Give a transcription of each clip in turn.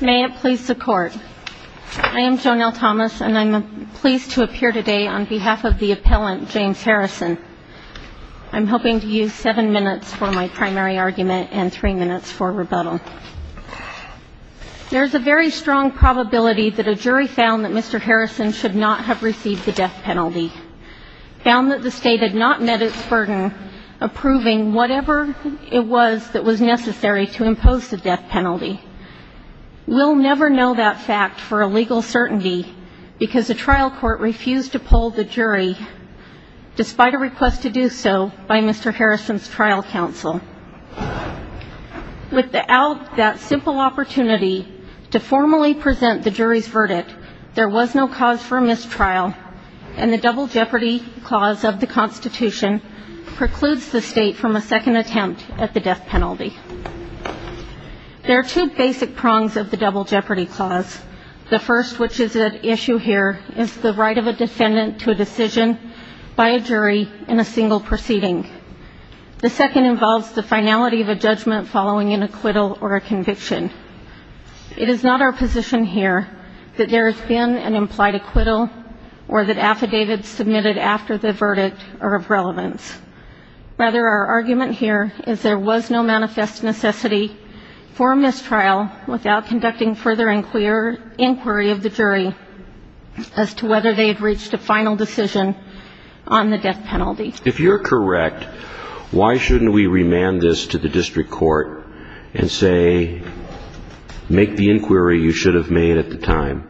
May it please the Court, I am Joan L. Thomas and I'm pleased to appear today on behalf of the appellant James Harrison. I'm hoping to use seven minutes for my primary argument and three minutes for rebuttal. There's a very strong probability that a jury found that Mr. Harrison should not have received the death penalty. Found that the state had not met its burden approving whatever it was that was necessary to impose the death penalty. We'll never know that fact for a legal certainty because the trial court refused to poll the jury despite a request to do so by Mr. Harrison's trial counsel. Without that simple opportunity to formally present the jury's verdict, there was no cause for mistrial. And the double jeopardy clause of the Constitution precludes the state from a second attempt at the death penalty. There are two basic prongs of the double jeopardy clause. The first, which is at issue here, is the right of a defendant to a decision by a jury in a single proceeding. The second involves the finality of a judgment following an acquittal or a conviction. It is not our position here that there has been an implied acquittal or that affidavits submitted after the verdict are of relevance. Rather, our argument here is there was no manifest necessity for a mistrial without conducting further inquiry of the jury as to whether they had reached a final decision on the death penalty. If you're correct, why shouldn't we remand this to the district court and say, make the inquiry you should have made at the time,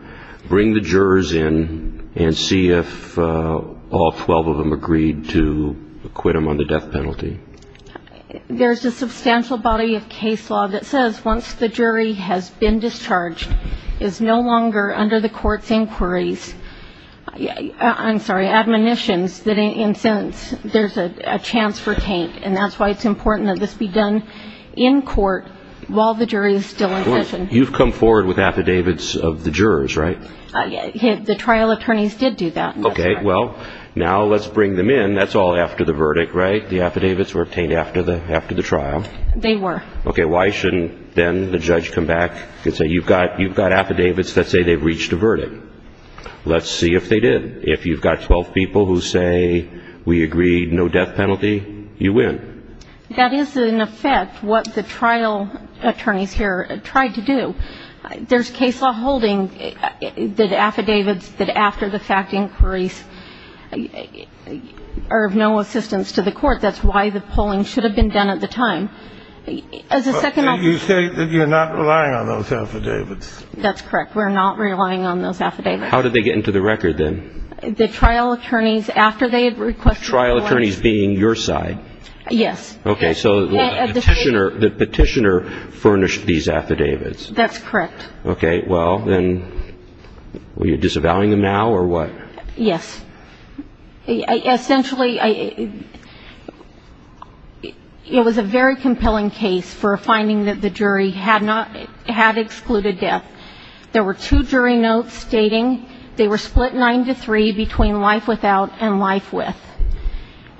bring the jurors in and see if all 12 of them agreed to acquit them on the death penalty? There's a substantial body of case law that says once the jury has been discharged, is no longer under the court's inquiries, I'm sorry, admonitions that in a sentence there's a chance for taint. And that's why it's important that this be done in court while the jury is still in session. You've come forward with affidavits of the jurors, right? The trial attorneys did do that. Okay, well, now let's bring them in. That's all after the verdict, right? The affidavits were obtained after the trial. They were. Okay, why shouldn't then the judge come back and say you've got affidavits that say they've reached a verdict? Let's see if they did. If you've got 12 people who say we agreed no death penalty, you win. That is, in effect, what the trial attorneys here tried to do. There's case law holding that affidavits that after the fact inquiries are of no assistance to the court. That's why the polling should have been done at the time. You say that you're not relying on those affidavits. That's correct. We're not relying on those affidavits. How did they get into the record then? The trial attorneys, after they had requested. The trial attorneys being your side? Yes. Okay, so the petitioner furnished these affidavits. That's correct. Okay, well, then were you disavowing them now or what? Yes. Essentially, it was a very compelling case for a finding that the jury had excluded death. There were two jury notes stating they were split nine to three between life without and life with.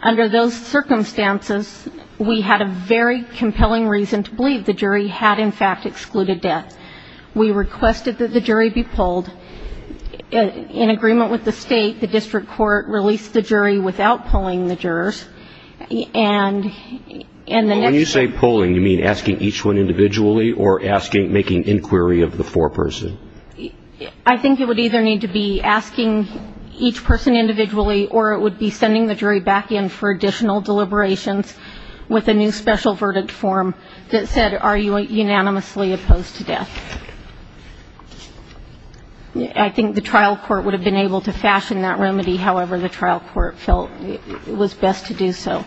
Under those circumstances, we had a very compelling reason to believe the jury had, in fact, excluded death. We requested that the jury be polled. In agreement with the state, the district court released the jury without polling the jurors. When you say polling, you mean asking each one individually or making inquiry of the foreperson? I think it would either need to be asking each person individually or it would be sending the jury back in for additional deliberations with a new special verdict form that said, are you unanimously opposed to death? I think the trial court would have been able to fashion that remedy however the trial court felt it was best to do so.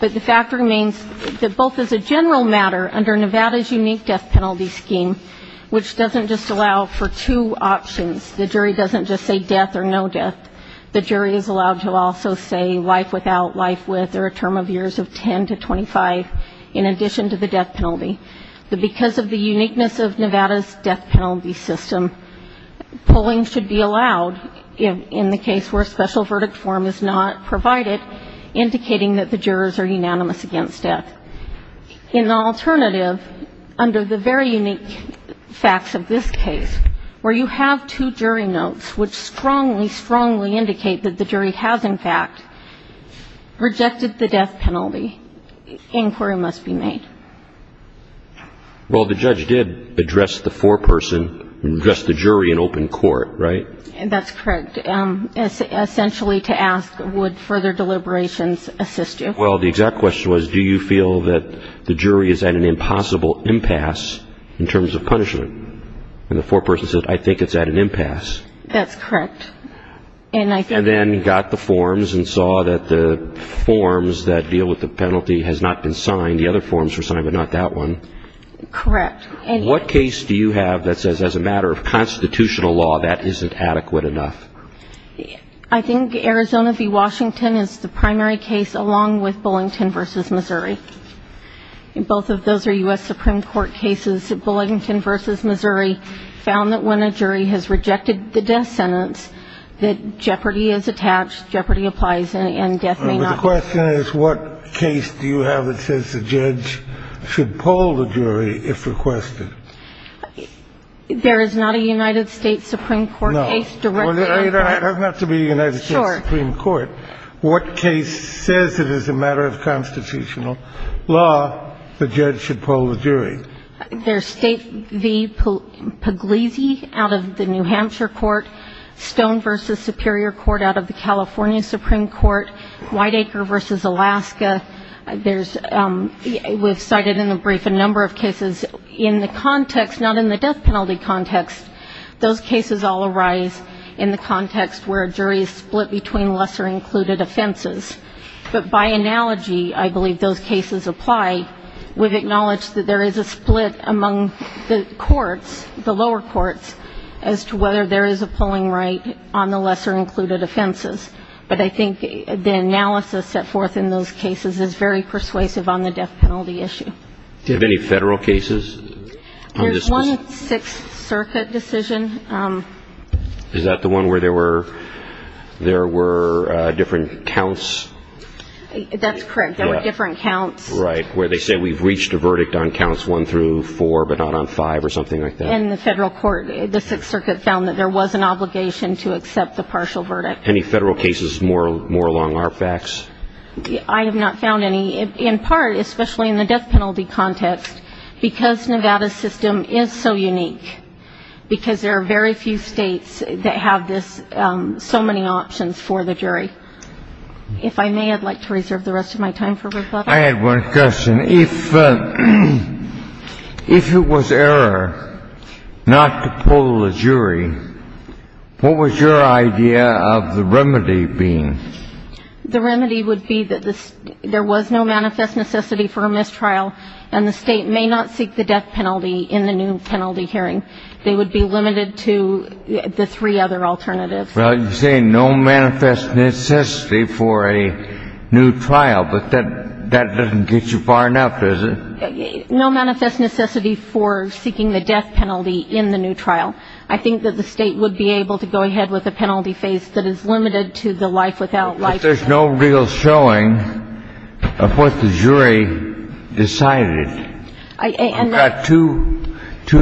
But the fact remains that both as a general matter, under Nevada's unique death penalty scheme, which doesn't just allow for two options, the jury doesn't just say death or no death. The jury is allowed to also say life without, life with, or a term of years of 10 to 25 in addition to the death penalty. But because of the uniqueness of Nevada's death penalty system, polling should be allowed in the case where a special verdict form is not provided, indicating that the jurors are unanimous against death. In an alternative, under the very unique facts of this case, where you have two jury notes which strongly, strongly indicate that the jury has, in fact, rejected the death penalty, inquiry must be made. Well, the judge did address the foreperson and address the jury in open court, right? That's correct. Essentially to ask would further deliberations assist you. Well, the exact question was do you feel that the jury is at an impossible impasse in terms of punishment and the foreperson said I think it's at an impasse. That's correct. And then got the forms and saw that the forms that deal with the penalty has not been signed. The other forms were signed but not that one. Correct. What case do you have that says as a matter of constitutional law that isn't adequate enough? I think Arizona v. Washington is the primary case along with Bullington v. Missouri. Both of those are U.S. Supreme Court cases. Bullington v. Missouri found that when a jury has rejected the death sentence that jeopardy is attached, jeopardy applies and death may not. But the question is what case do you have that says the judge should poll the jury if requested? There is not a United States Supreme Court case directly. No. It doesn't have to be United States Supreme Court. Sure. What case says it is a matter of constitutional law the judge should poll the jury? There's State v. Pugliese out of the New Hampshire court, Stone v. Superior Court out of the California Supreme Court, Whiteacre v. Alaska. We've cited in the brief a number of cases in the context, not in the death penalty context. Those cases all arise in the context where a jury is split between lesser included offenses. But by analogy, I believe those cases apply. We've acknowledged that there is a split among the courts, the lower courts, as to whether there is a polling right on the lesser included offenses. But I think the analysis set forth in those cases is very persuasive on the death penalty issue. Do you have any Federal cases? There's one Sixth Circuit decision. Is that the one where there were different counts? That's correct. There were different counts. Right, where they say we've reached a verdict on counts one through four but not on five or something like that. In the Federal court, the Sixth Circuit found that there was an obligation to accept the partial verdict. Any Federal cases more along our facts? I have not found any, in part, especially in the death penalty context, because Nevada's system is so unique, because there are very few states that have this, so many options for the jury. If I may, I'd like to reserve the rest of my time for rebuttal. I had one question. If it was error not to poll the jury, what was your idea of the remedy being? The remedy would be that there was no manifest necessity for a mistrial, and the state may not seek the death penalty in the new penalty hearing. They would be limited to the three other alternatives. Well, you say no manifest necessity for a new trial, but that doesn't get you far enough, does it? No manifest necessity for seeking the death penalty in the new trial. I think that the state would be able to go ahead with a penalty phase that is limited to the life without life. But there's no real showing of what the jury decided. I've got two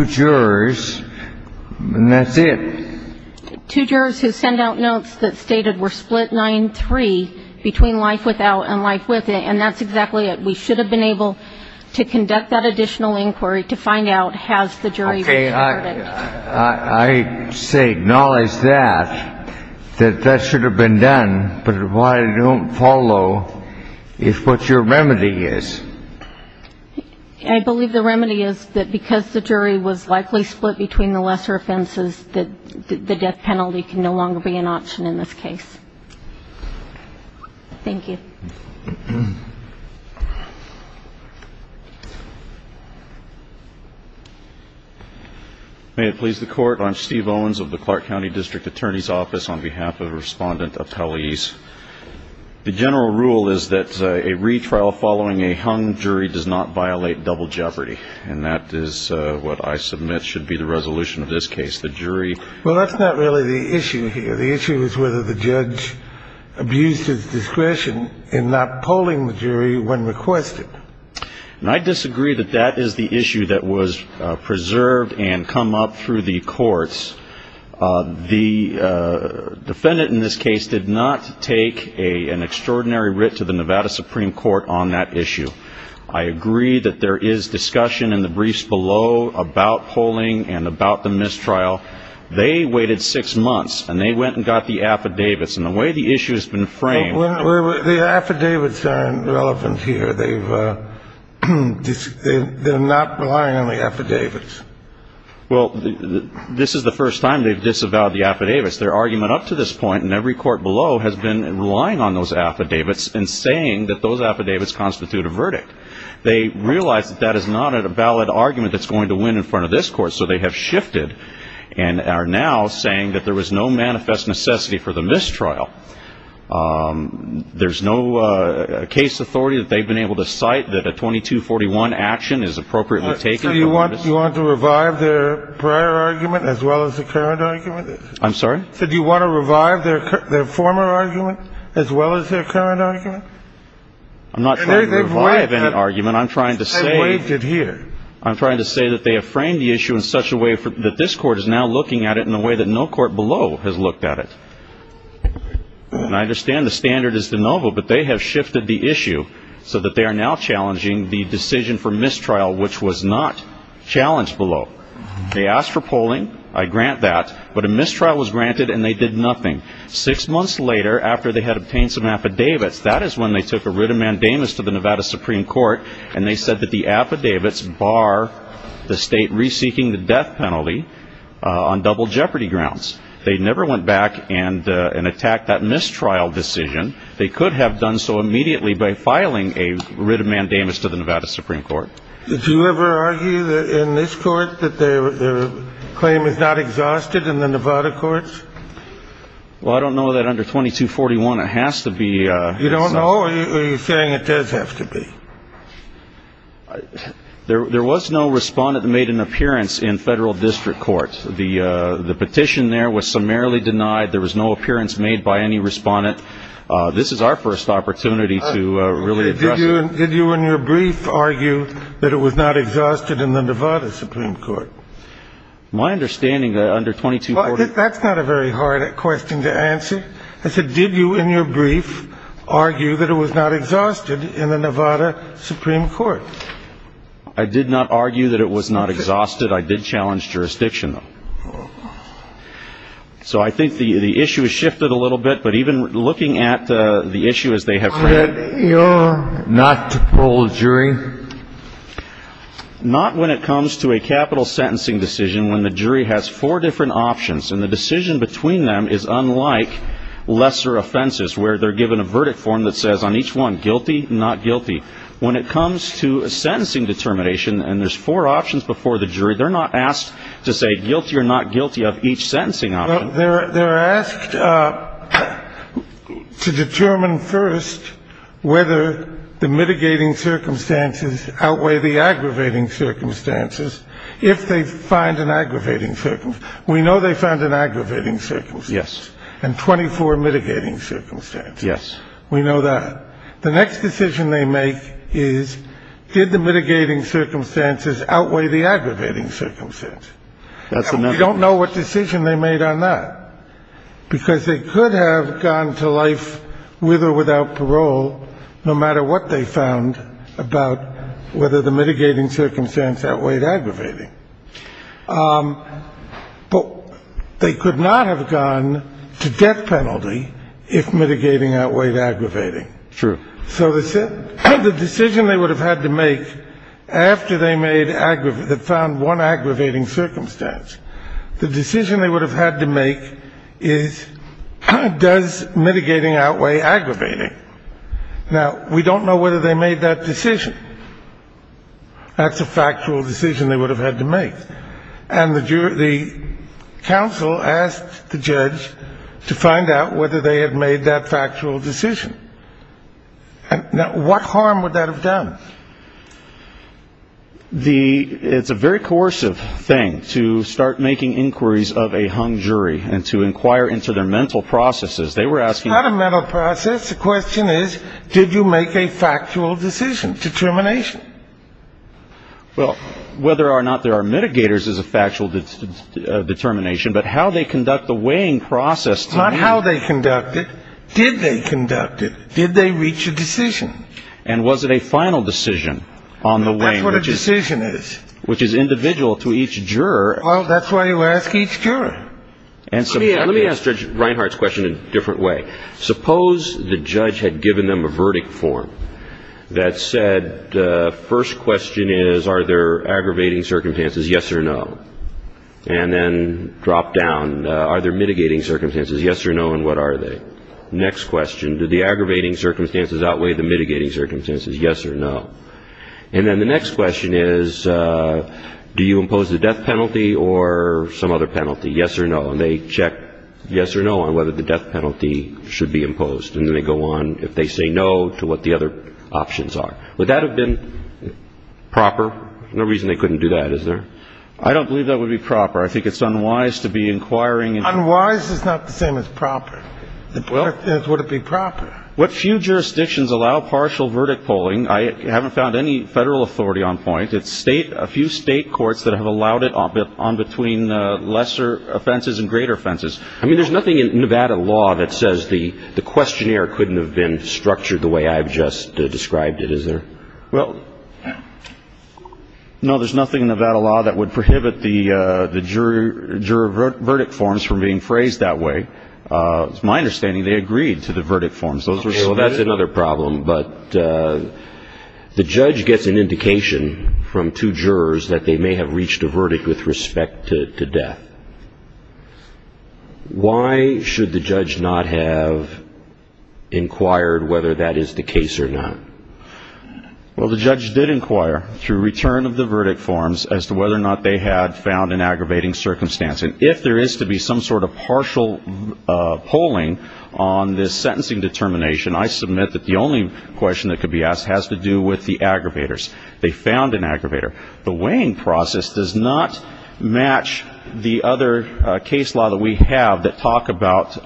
jurors, and that's it. Two jurors who send out notes that stated we're split 9-3 between life without and life with it, and that's exactly it. We should have been able to conduct that additional inquiry to find out has the jury reserved it. I say acknowledge that, that that should have been done, but why don't follow if what's your remedy is? I believe the remedy is that because the jury was likely split between the lesser offenses, that the death penalty can no longer be an option in this case. Thank you. May it please the Court. I'm Steve Owens of the Clark County District Attorney's Office on behalf of Respondent Appellees. The general rule is that a retrial following a hung jury does not violate double jeopardy, and that is what I submit should be the resolution of this case, the jury. Well, that's not really the issue here. The issue is whether the judge abused his discretion in not polling the jury when requested. And I disagree that that is the issue that was preserved and come up through the courts. The defendant in this case did not take an extraordinary writ to the Nevada Supreme Court on that issue. I agree that there is discussion in the briefs below about polling and about the mistrial. They waited six months, and they went and got the affidavits. And the way the issue has been framed ñ Well, the affidavits aren't relevant here. They've ñ they're not relying on the affidavits. Well, this is the first time they've disavowed the affidavits. Their argument up to this point in every court below has been relying on those affidavits and saying that those affidavits constitute a verdict. They realize that that is not a valid argument that's going to win in front of this Court, so they have shifted and are now saying that there was no manifest necessity for the mistrial. There's no case authority that they've been able to cite that a 2241 action is appropriately taken. So you want to revive their prior argument as well as the current argument? I'm sorry? So do you want to revive their former argument as well as their current argument? I'm not trying to revive any argument. I'm trying to say ñ They've waived it here. I'm trying to say that they have framed the issue in such a way that this Court is now looking at it in a way that no court below has looked at it. And I understand the standard is de novo, but they have shifted the issue so that they are now challenging the decision for mistrial, which was not challenged below. They asked for polling. I grant that. But a mistrial was granted and they did nothing. Six months later, after they had obtained some affidavits, that is when they took a writ of mandamus to the Nevada Supreme Court and they said that the affidavits bar the state reseeking the death penalty on double jeopardy grounds. They never went back and attacked that mistrial decision. They could have done so immediately by filing a writ of mandamus to the Nevada Supreme Court. Did you ever argue in this Court that their claim is not exhausted in the Nevada Courts? Well, I don't know that under 2241 it has to be ñ You don't know or are you saying it does have to be? There was no respondent that made an appearance in federal district court. The petition there was summarily denied. There was no appearance made by any respondent. This is our first opportunity to really address it. Did you in your brief argue that it was not exhausted in the Nevada Supreme Court? My understanding under 2241 ñ Well, that's not a very hard question to answer. I said, did you in your brief argue that it was not exhausted in the Nevada Supreme Court? I did not argue that it was not exhausted. I did challenge jurisdiction, though. So I think the issue has shifted a little bit. But even looking at the issue as they have ñ That you're not to poll the jury? Not when it comes to a capital sentencing decision when the jury has four different options and the decision between them is unlike lesser offenses where they're given a verdict form that says on each one, guilty, not guilty. When it comes to a sentencing determination and there's four options before the jury, they're not asked to say guilty or not guilty of each sentencing option. They're asked to determine first whether the mitigating circumstances outweigh the aggravating circumstances if they find an aggravating circumstance. We know they found an aggravating circumstance. Yes. And 24 mitigating circumstances. Yes. We know that. The next decision they make is did the mitigating circumstances outweigh the aggravating circumstance? That's another question. And we don't know what decision they made on that because they could have gone to life with or without parole no matter what they found about whether the mitigating circumstance outweighed aggravating. But they could not have gone to death penalty if mitigating outweighed aggravating. True. So the decision they would have had to make after they found one aggravating circumstance, the decision they would have had to make is does mitigating outweigh aggravating? Now, we don't know whether they made that decision. That's a factual decision they would have had to make. And the counsel asked the judge to find out whether they had made that factual decision. Now, what harm would that have done? It's a very coercive thing to start making inquiries of a hung jury and to inquire into their mental processes. They were asking them. It's not a mental process. The question is, did you make a factual decision, determination? Well, whether or not there are mitigators is a factual determination. But how they conduct the weighing process. Not how they conduct it. Did they conduct it? Did they reach a decision? And was it a final decision on the weighing? That's what a decision is. Which is individual to each juror. Well, that's why you ask each juror. Let me ask Judge Reinhart's question a different way. Suppose the judge had given them a verdict form that said, first question is, are there aggravating circumstances, yes or no? And then drop down, are there mitigating circumstances, yes or no, and what are they? Next question, do the aggravating circumstances outweigh the mitigating circumstances, yes or no? And then the next question is, do you impose the death penalty or some other penalty, yes or no? And they check yes or no on whether the death penalty should be imposed. And then they go on, if they say no, to what the other options are. Would that have been proper? No reason they couldn't do that, is there? I don't believe that would be proper. I think it's unwise to be inquiring. Unwise is not the same as proper. Would it be proper? What few jurisdictions allow partial verdict polling. I haven't found any federal authority on point. A few state courts that have allowed it on between lesser offenses and greater offenses. I mean, there's nothing in Nevada law that says the questionnaire couldn't have been structured the way I've just described it, is there? Well, no, there's nothing in Nevada law that would prohibit the jury verdict forms from being phrased that way. It's my understanding they agreed to the verdict forms. Well, that's another problem. But the judge gets an indication from two jurors that they may have reached a verdict with respect to death. Why should the judge not have inquired whether that is the case or not? Well, the judge did inquire through return of the verdict forms as to whether or not they had found an aggravating circumstance. And if there is to be some sort of partial polling on this sentencing determination, I submit that the only question that could be asked has to do with the aggravators. They found an aggravator. The weighing process does not match the other case law that we have that talk about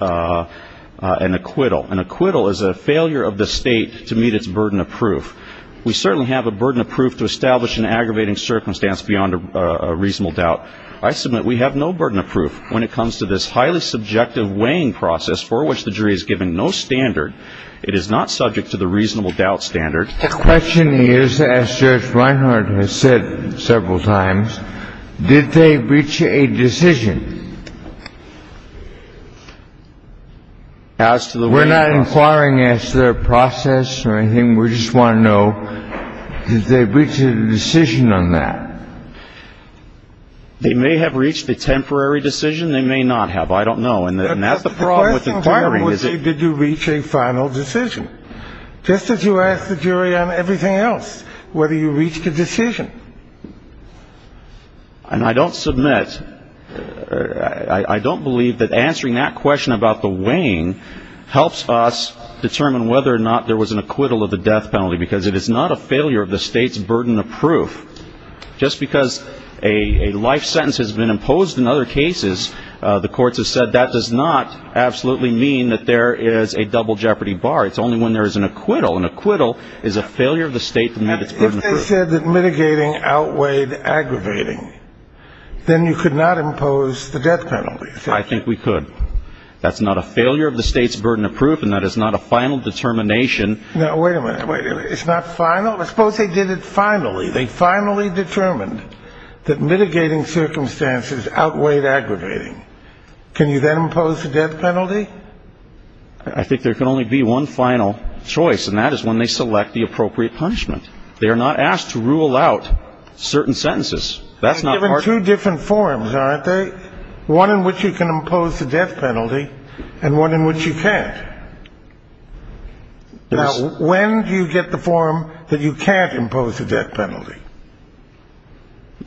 an acquittal. An acquittal is a failure of the state to meet its burden of proof. We certainly have a burden of proof to establish an aggravating circumstance beyond a reasonable doubt. I submit we have no burden of proof when it comes to this highly subjective weighing process for which the jury is given no standard. It is not subject to the reasonable doubt standard. The question is, as Judge Reinhardt has said several times, did they reach a decision? We're not inquiring as to their process or anything. We just want to know, did they reach a decision on that? They may have reached a temporary decision. They may not have. I don't know. And that's the problem with inquiring is that you reach a final decision. Just as you asked the jury on everything else, whether you reached a decision. And I don't submit, I don't believe that answering that question about the weighing helps us determine whether or not there was an acquittal of the death penalty, because it is not a failure of the state's burden of proof. Just because a life sentence has been imposed in other cases, the courts have said that does not absolutely mean that there is a double jeopardy bar. It's only when there is an acquittal. An acquittal is a failure of the state to meet its burden of proof. If they said that mitigating outweighed aggravating, then you could not impose the death penalty. I think we could. That's not a failure of the state's burden of proof, and that is not a final determination. Now, wait a minute. It's not final. Suppose they did it finally. They finally determined that mitigating circumstances outweighed aggravating. Can you then impose the death penalty? I think there can only be one final choice, and that is when they select the appropriate punishment. They are not asked to rule out certain sentences. That's not part of it. They're given two different forms, aren't they? One in which you can impose the death penalty and one in which you can't. Now, when do you get the form that you can't impose the death penalty?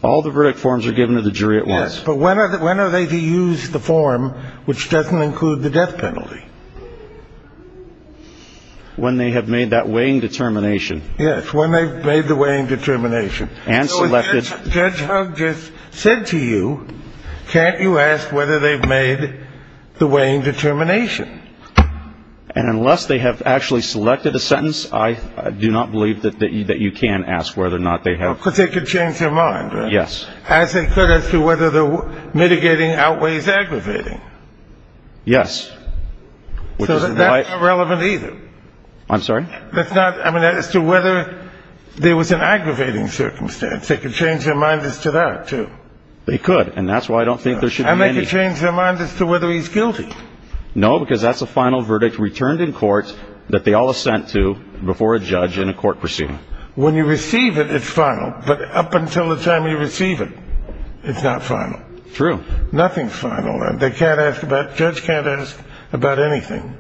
All the verdict forms are given to the jury at once. Yes. But when are they to use the form which doesn't include the death penalty? When they have made that weighing determination. Yes. When they've made the weighing determination. And selected. Judge Hugg just said to you, can't you ask whether they've made the weighing determination? And unless they have actually selected a sentence, I do not believe that you can ask whether or not they have. Because they could change their mind, right? Yes. As they could as to whether the mitigating outweighs aggravating. Yes. So that's not relevant either. I'm sorry? That's not, I mean, as to whether there was an aggravating circumstance. They could change their mind as to that, too. They could. And that's why I don't think there should be any. And they could change their mind as to whether he's guilty. No, because that's a final verdict returned in court that they all assent to before a judge in a court proceeding. When you receive it, it's final. But up until the time you receive it, it's not final. True. Nothing's final. They can't ask about, judge can't ask about anything.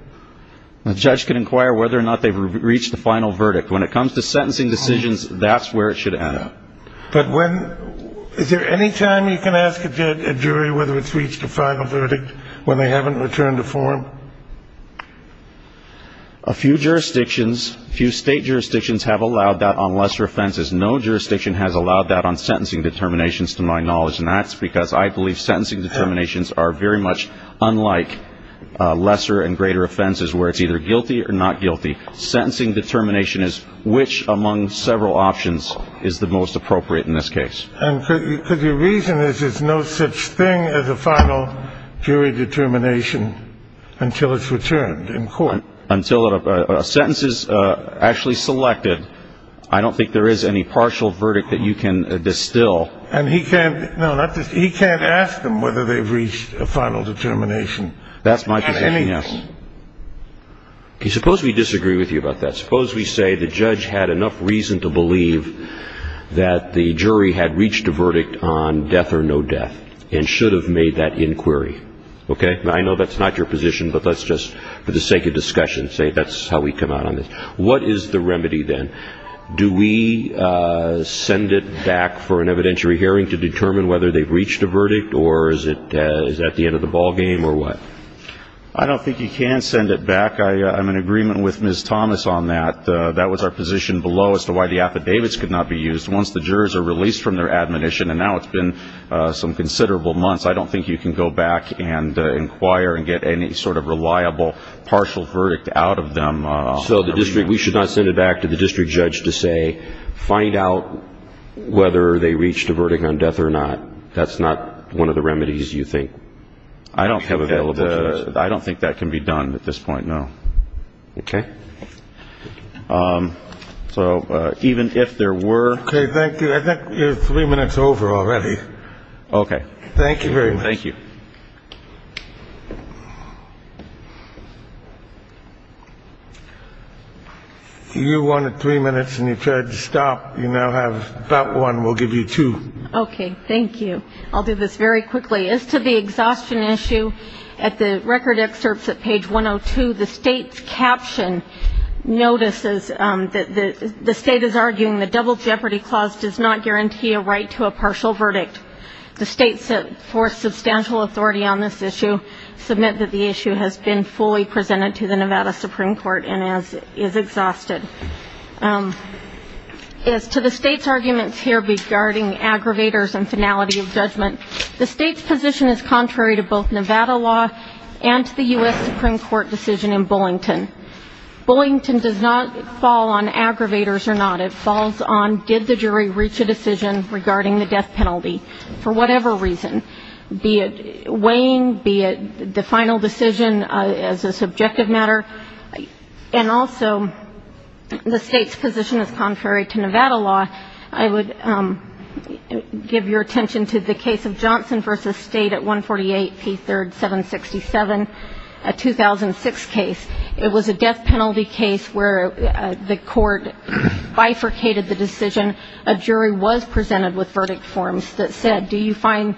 A judge can inquire whether or not they've reached the final verdict. When it comes to sentencing decisions, that's where it should end up. But when, is there any time you can ask a jury whether it's reached a final verdict when they haven't returned a form? A few jurisdictions, a few state jurisdictions have allowed that on lesser offenses. No jurisdiction has allowed that on sentencing determinations to my knowledge. And that's because I believe sentencing determinations are very much unlike lesser and greater offenses where it's either guilty or not guilty. Sentencing determination is which among several options is the most appropriate in this case. And could you reason that there's no such thing as a final jury determination until it's returned in court? Until a sentence is actually selected, I don't think there is any partial verdict that you can distill. And he can't, no, he can't ask them whether they've reached a final determination on anything. That's my presumption, yes. Okay, suppose we disagree with you about that. Suppose we say the judge had enough reason to believe that the jury had reached a verdict on death or no death and should have made that inquiry. Okay, I know that's not your position, but let's just, for the sake of discussion, say that's how we come out on this. What is the remedy then? Do we send it back for an evidentiary hearing to determine whether they've reached a verdict or is it at the end of the ballgame or what? I don't think you can send it back. I'm in agreement with Ms. Thomas on that. That was our position below as to why the affidavits could not be used. Once the jurors are released from their admonition, and now it's been some considerable months, I don't think you can go back and inquire and get any sort of reliable partial verdict out of them. So the district, we should not send it back to the district judge to say find out whether they reached a verdict on death or not. That's not one of the remedies you think we have available to us. I don't think that can be done at this point, no. Okay. So even if there were. Okay, thank you. I think we're three minutes over already. Okay. Thank you very much. Thank you. You wanted three minutes and you tried to stop. You now have about one. We'll give you two. Okay. Thank you. I'll do this very quickly. As to the exhaustion issue, at the record excerpts at page 102, the state's caption notices that the state is arguing the double jeopardy clause does not guarantee a right to a partial verdict. The states that force substantial authority on this issue submit that the issue has been fully presented to the Nevada Supreme Court and is exhausted. As to the state's arguments here regarding aggravators and finality of judgment, the state's position is contrary to both Nevada law and to the U.S. Supreme Court decision in Bullington. Bullington does not fall on aggravators or not. It falls on did the jury reach a decision regarding the death penalty for whatever reason, be it weighing, be it the final decision as a subjective matter, and also the state's position is contrary to Nevada law. I would give your attention to the case of Johnson v. State at 148 P. 3rd, 767, a 2006 case. It was a death penalty case where the court bifurcated the decision. A jury was presented with verdict forms that said, do you find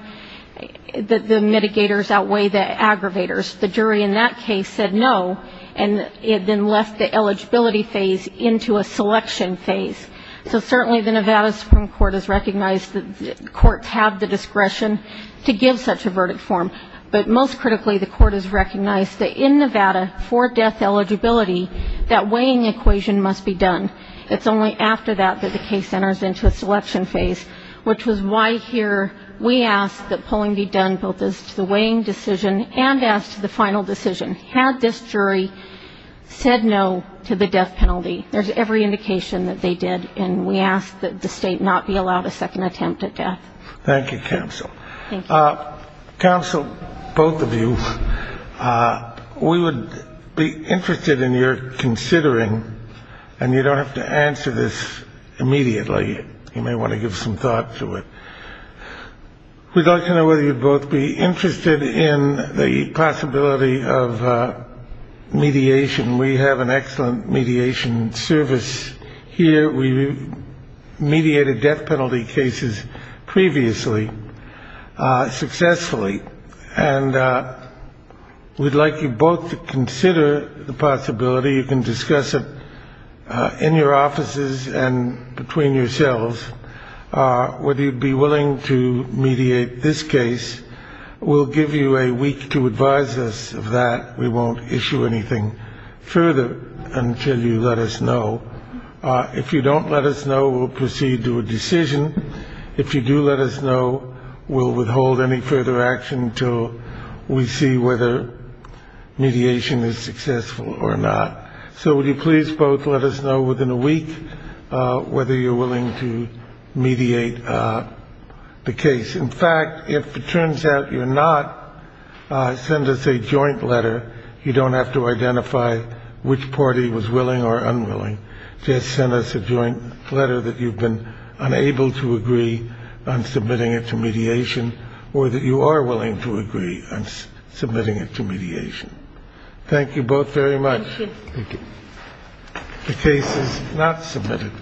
that the mitigators outweigh the aggravators? The jury in that case said no, and it then left the eligibility phase into a selection phase. So certainly the Nevada Supreme Court has recognized that courts have the discretion to give such a verdict form. But most critically, the court has recognized that in Nevada, for death eligibility, that weighing equation must be done. It's only after that that the case enters into a selection phase, which is why here we ask that polling be done, both as to the weighing decision and as to the final decision. Had this jury said no to the death penalty, there's every indication that they did, and we ask that the state not be allowed a second attempt at death. Thank you, counsel. Counsel, both of you, we would be interested in your considering, and you don't have to answer this immediately. You may want to give some thought to it. We'd like to know whether you'd both be interested in the possibility of mediation. We have an excellent mediation service here. We mediated death penalty cases previously successfully, and we'd like you both to consider the possibility. You can discuss it in your offices and between yourselves whether you'd be willing to mediate this case. We'll give you a week to advise us of that. We won't issue anything further until you let us know. If you don't let us know, we'll proceed to a decision. If you do let us know, we'll withhold any further action until we see whether mediation is successful or not. So would you please both let us know within a week whether you're willing to mediate the case? In fact, if it turns out you're not, send us a joint letter. You don't have to identify which party was willing or unwilling. Just send us a joint letter that you've been unable to agree on submitting it to mediation or that you are willing to agree on submitting it to mediation. Thank you both very much. Thank you. The case is not submitted.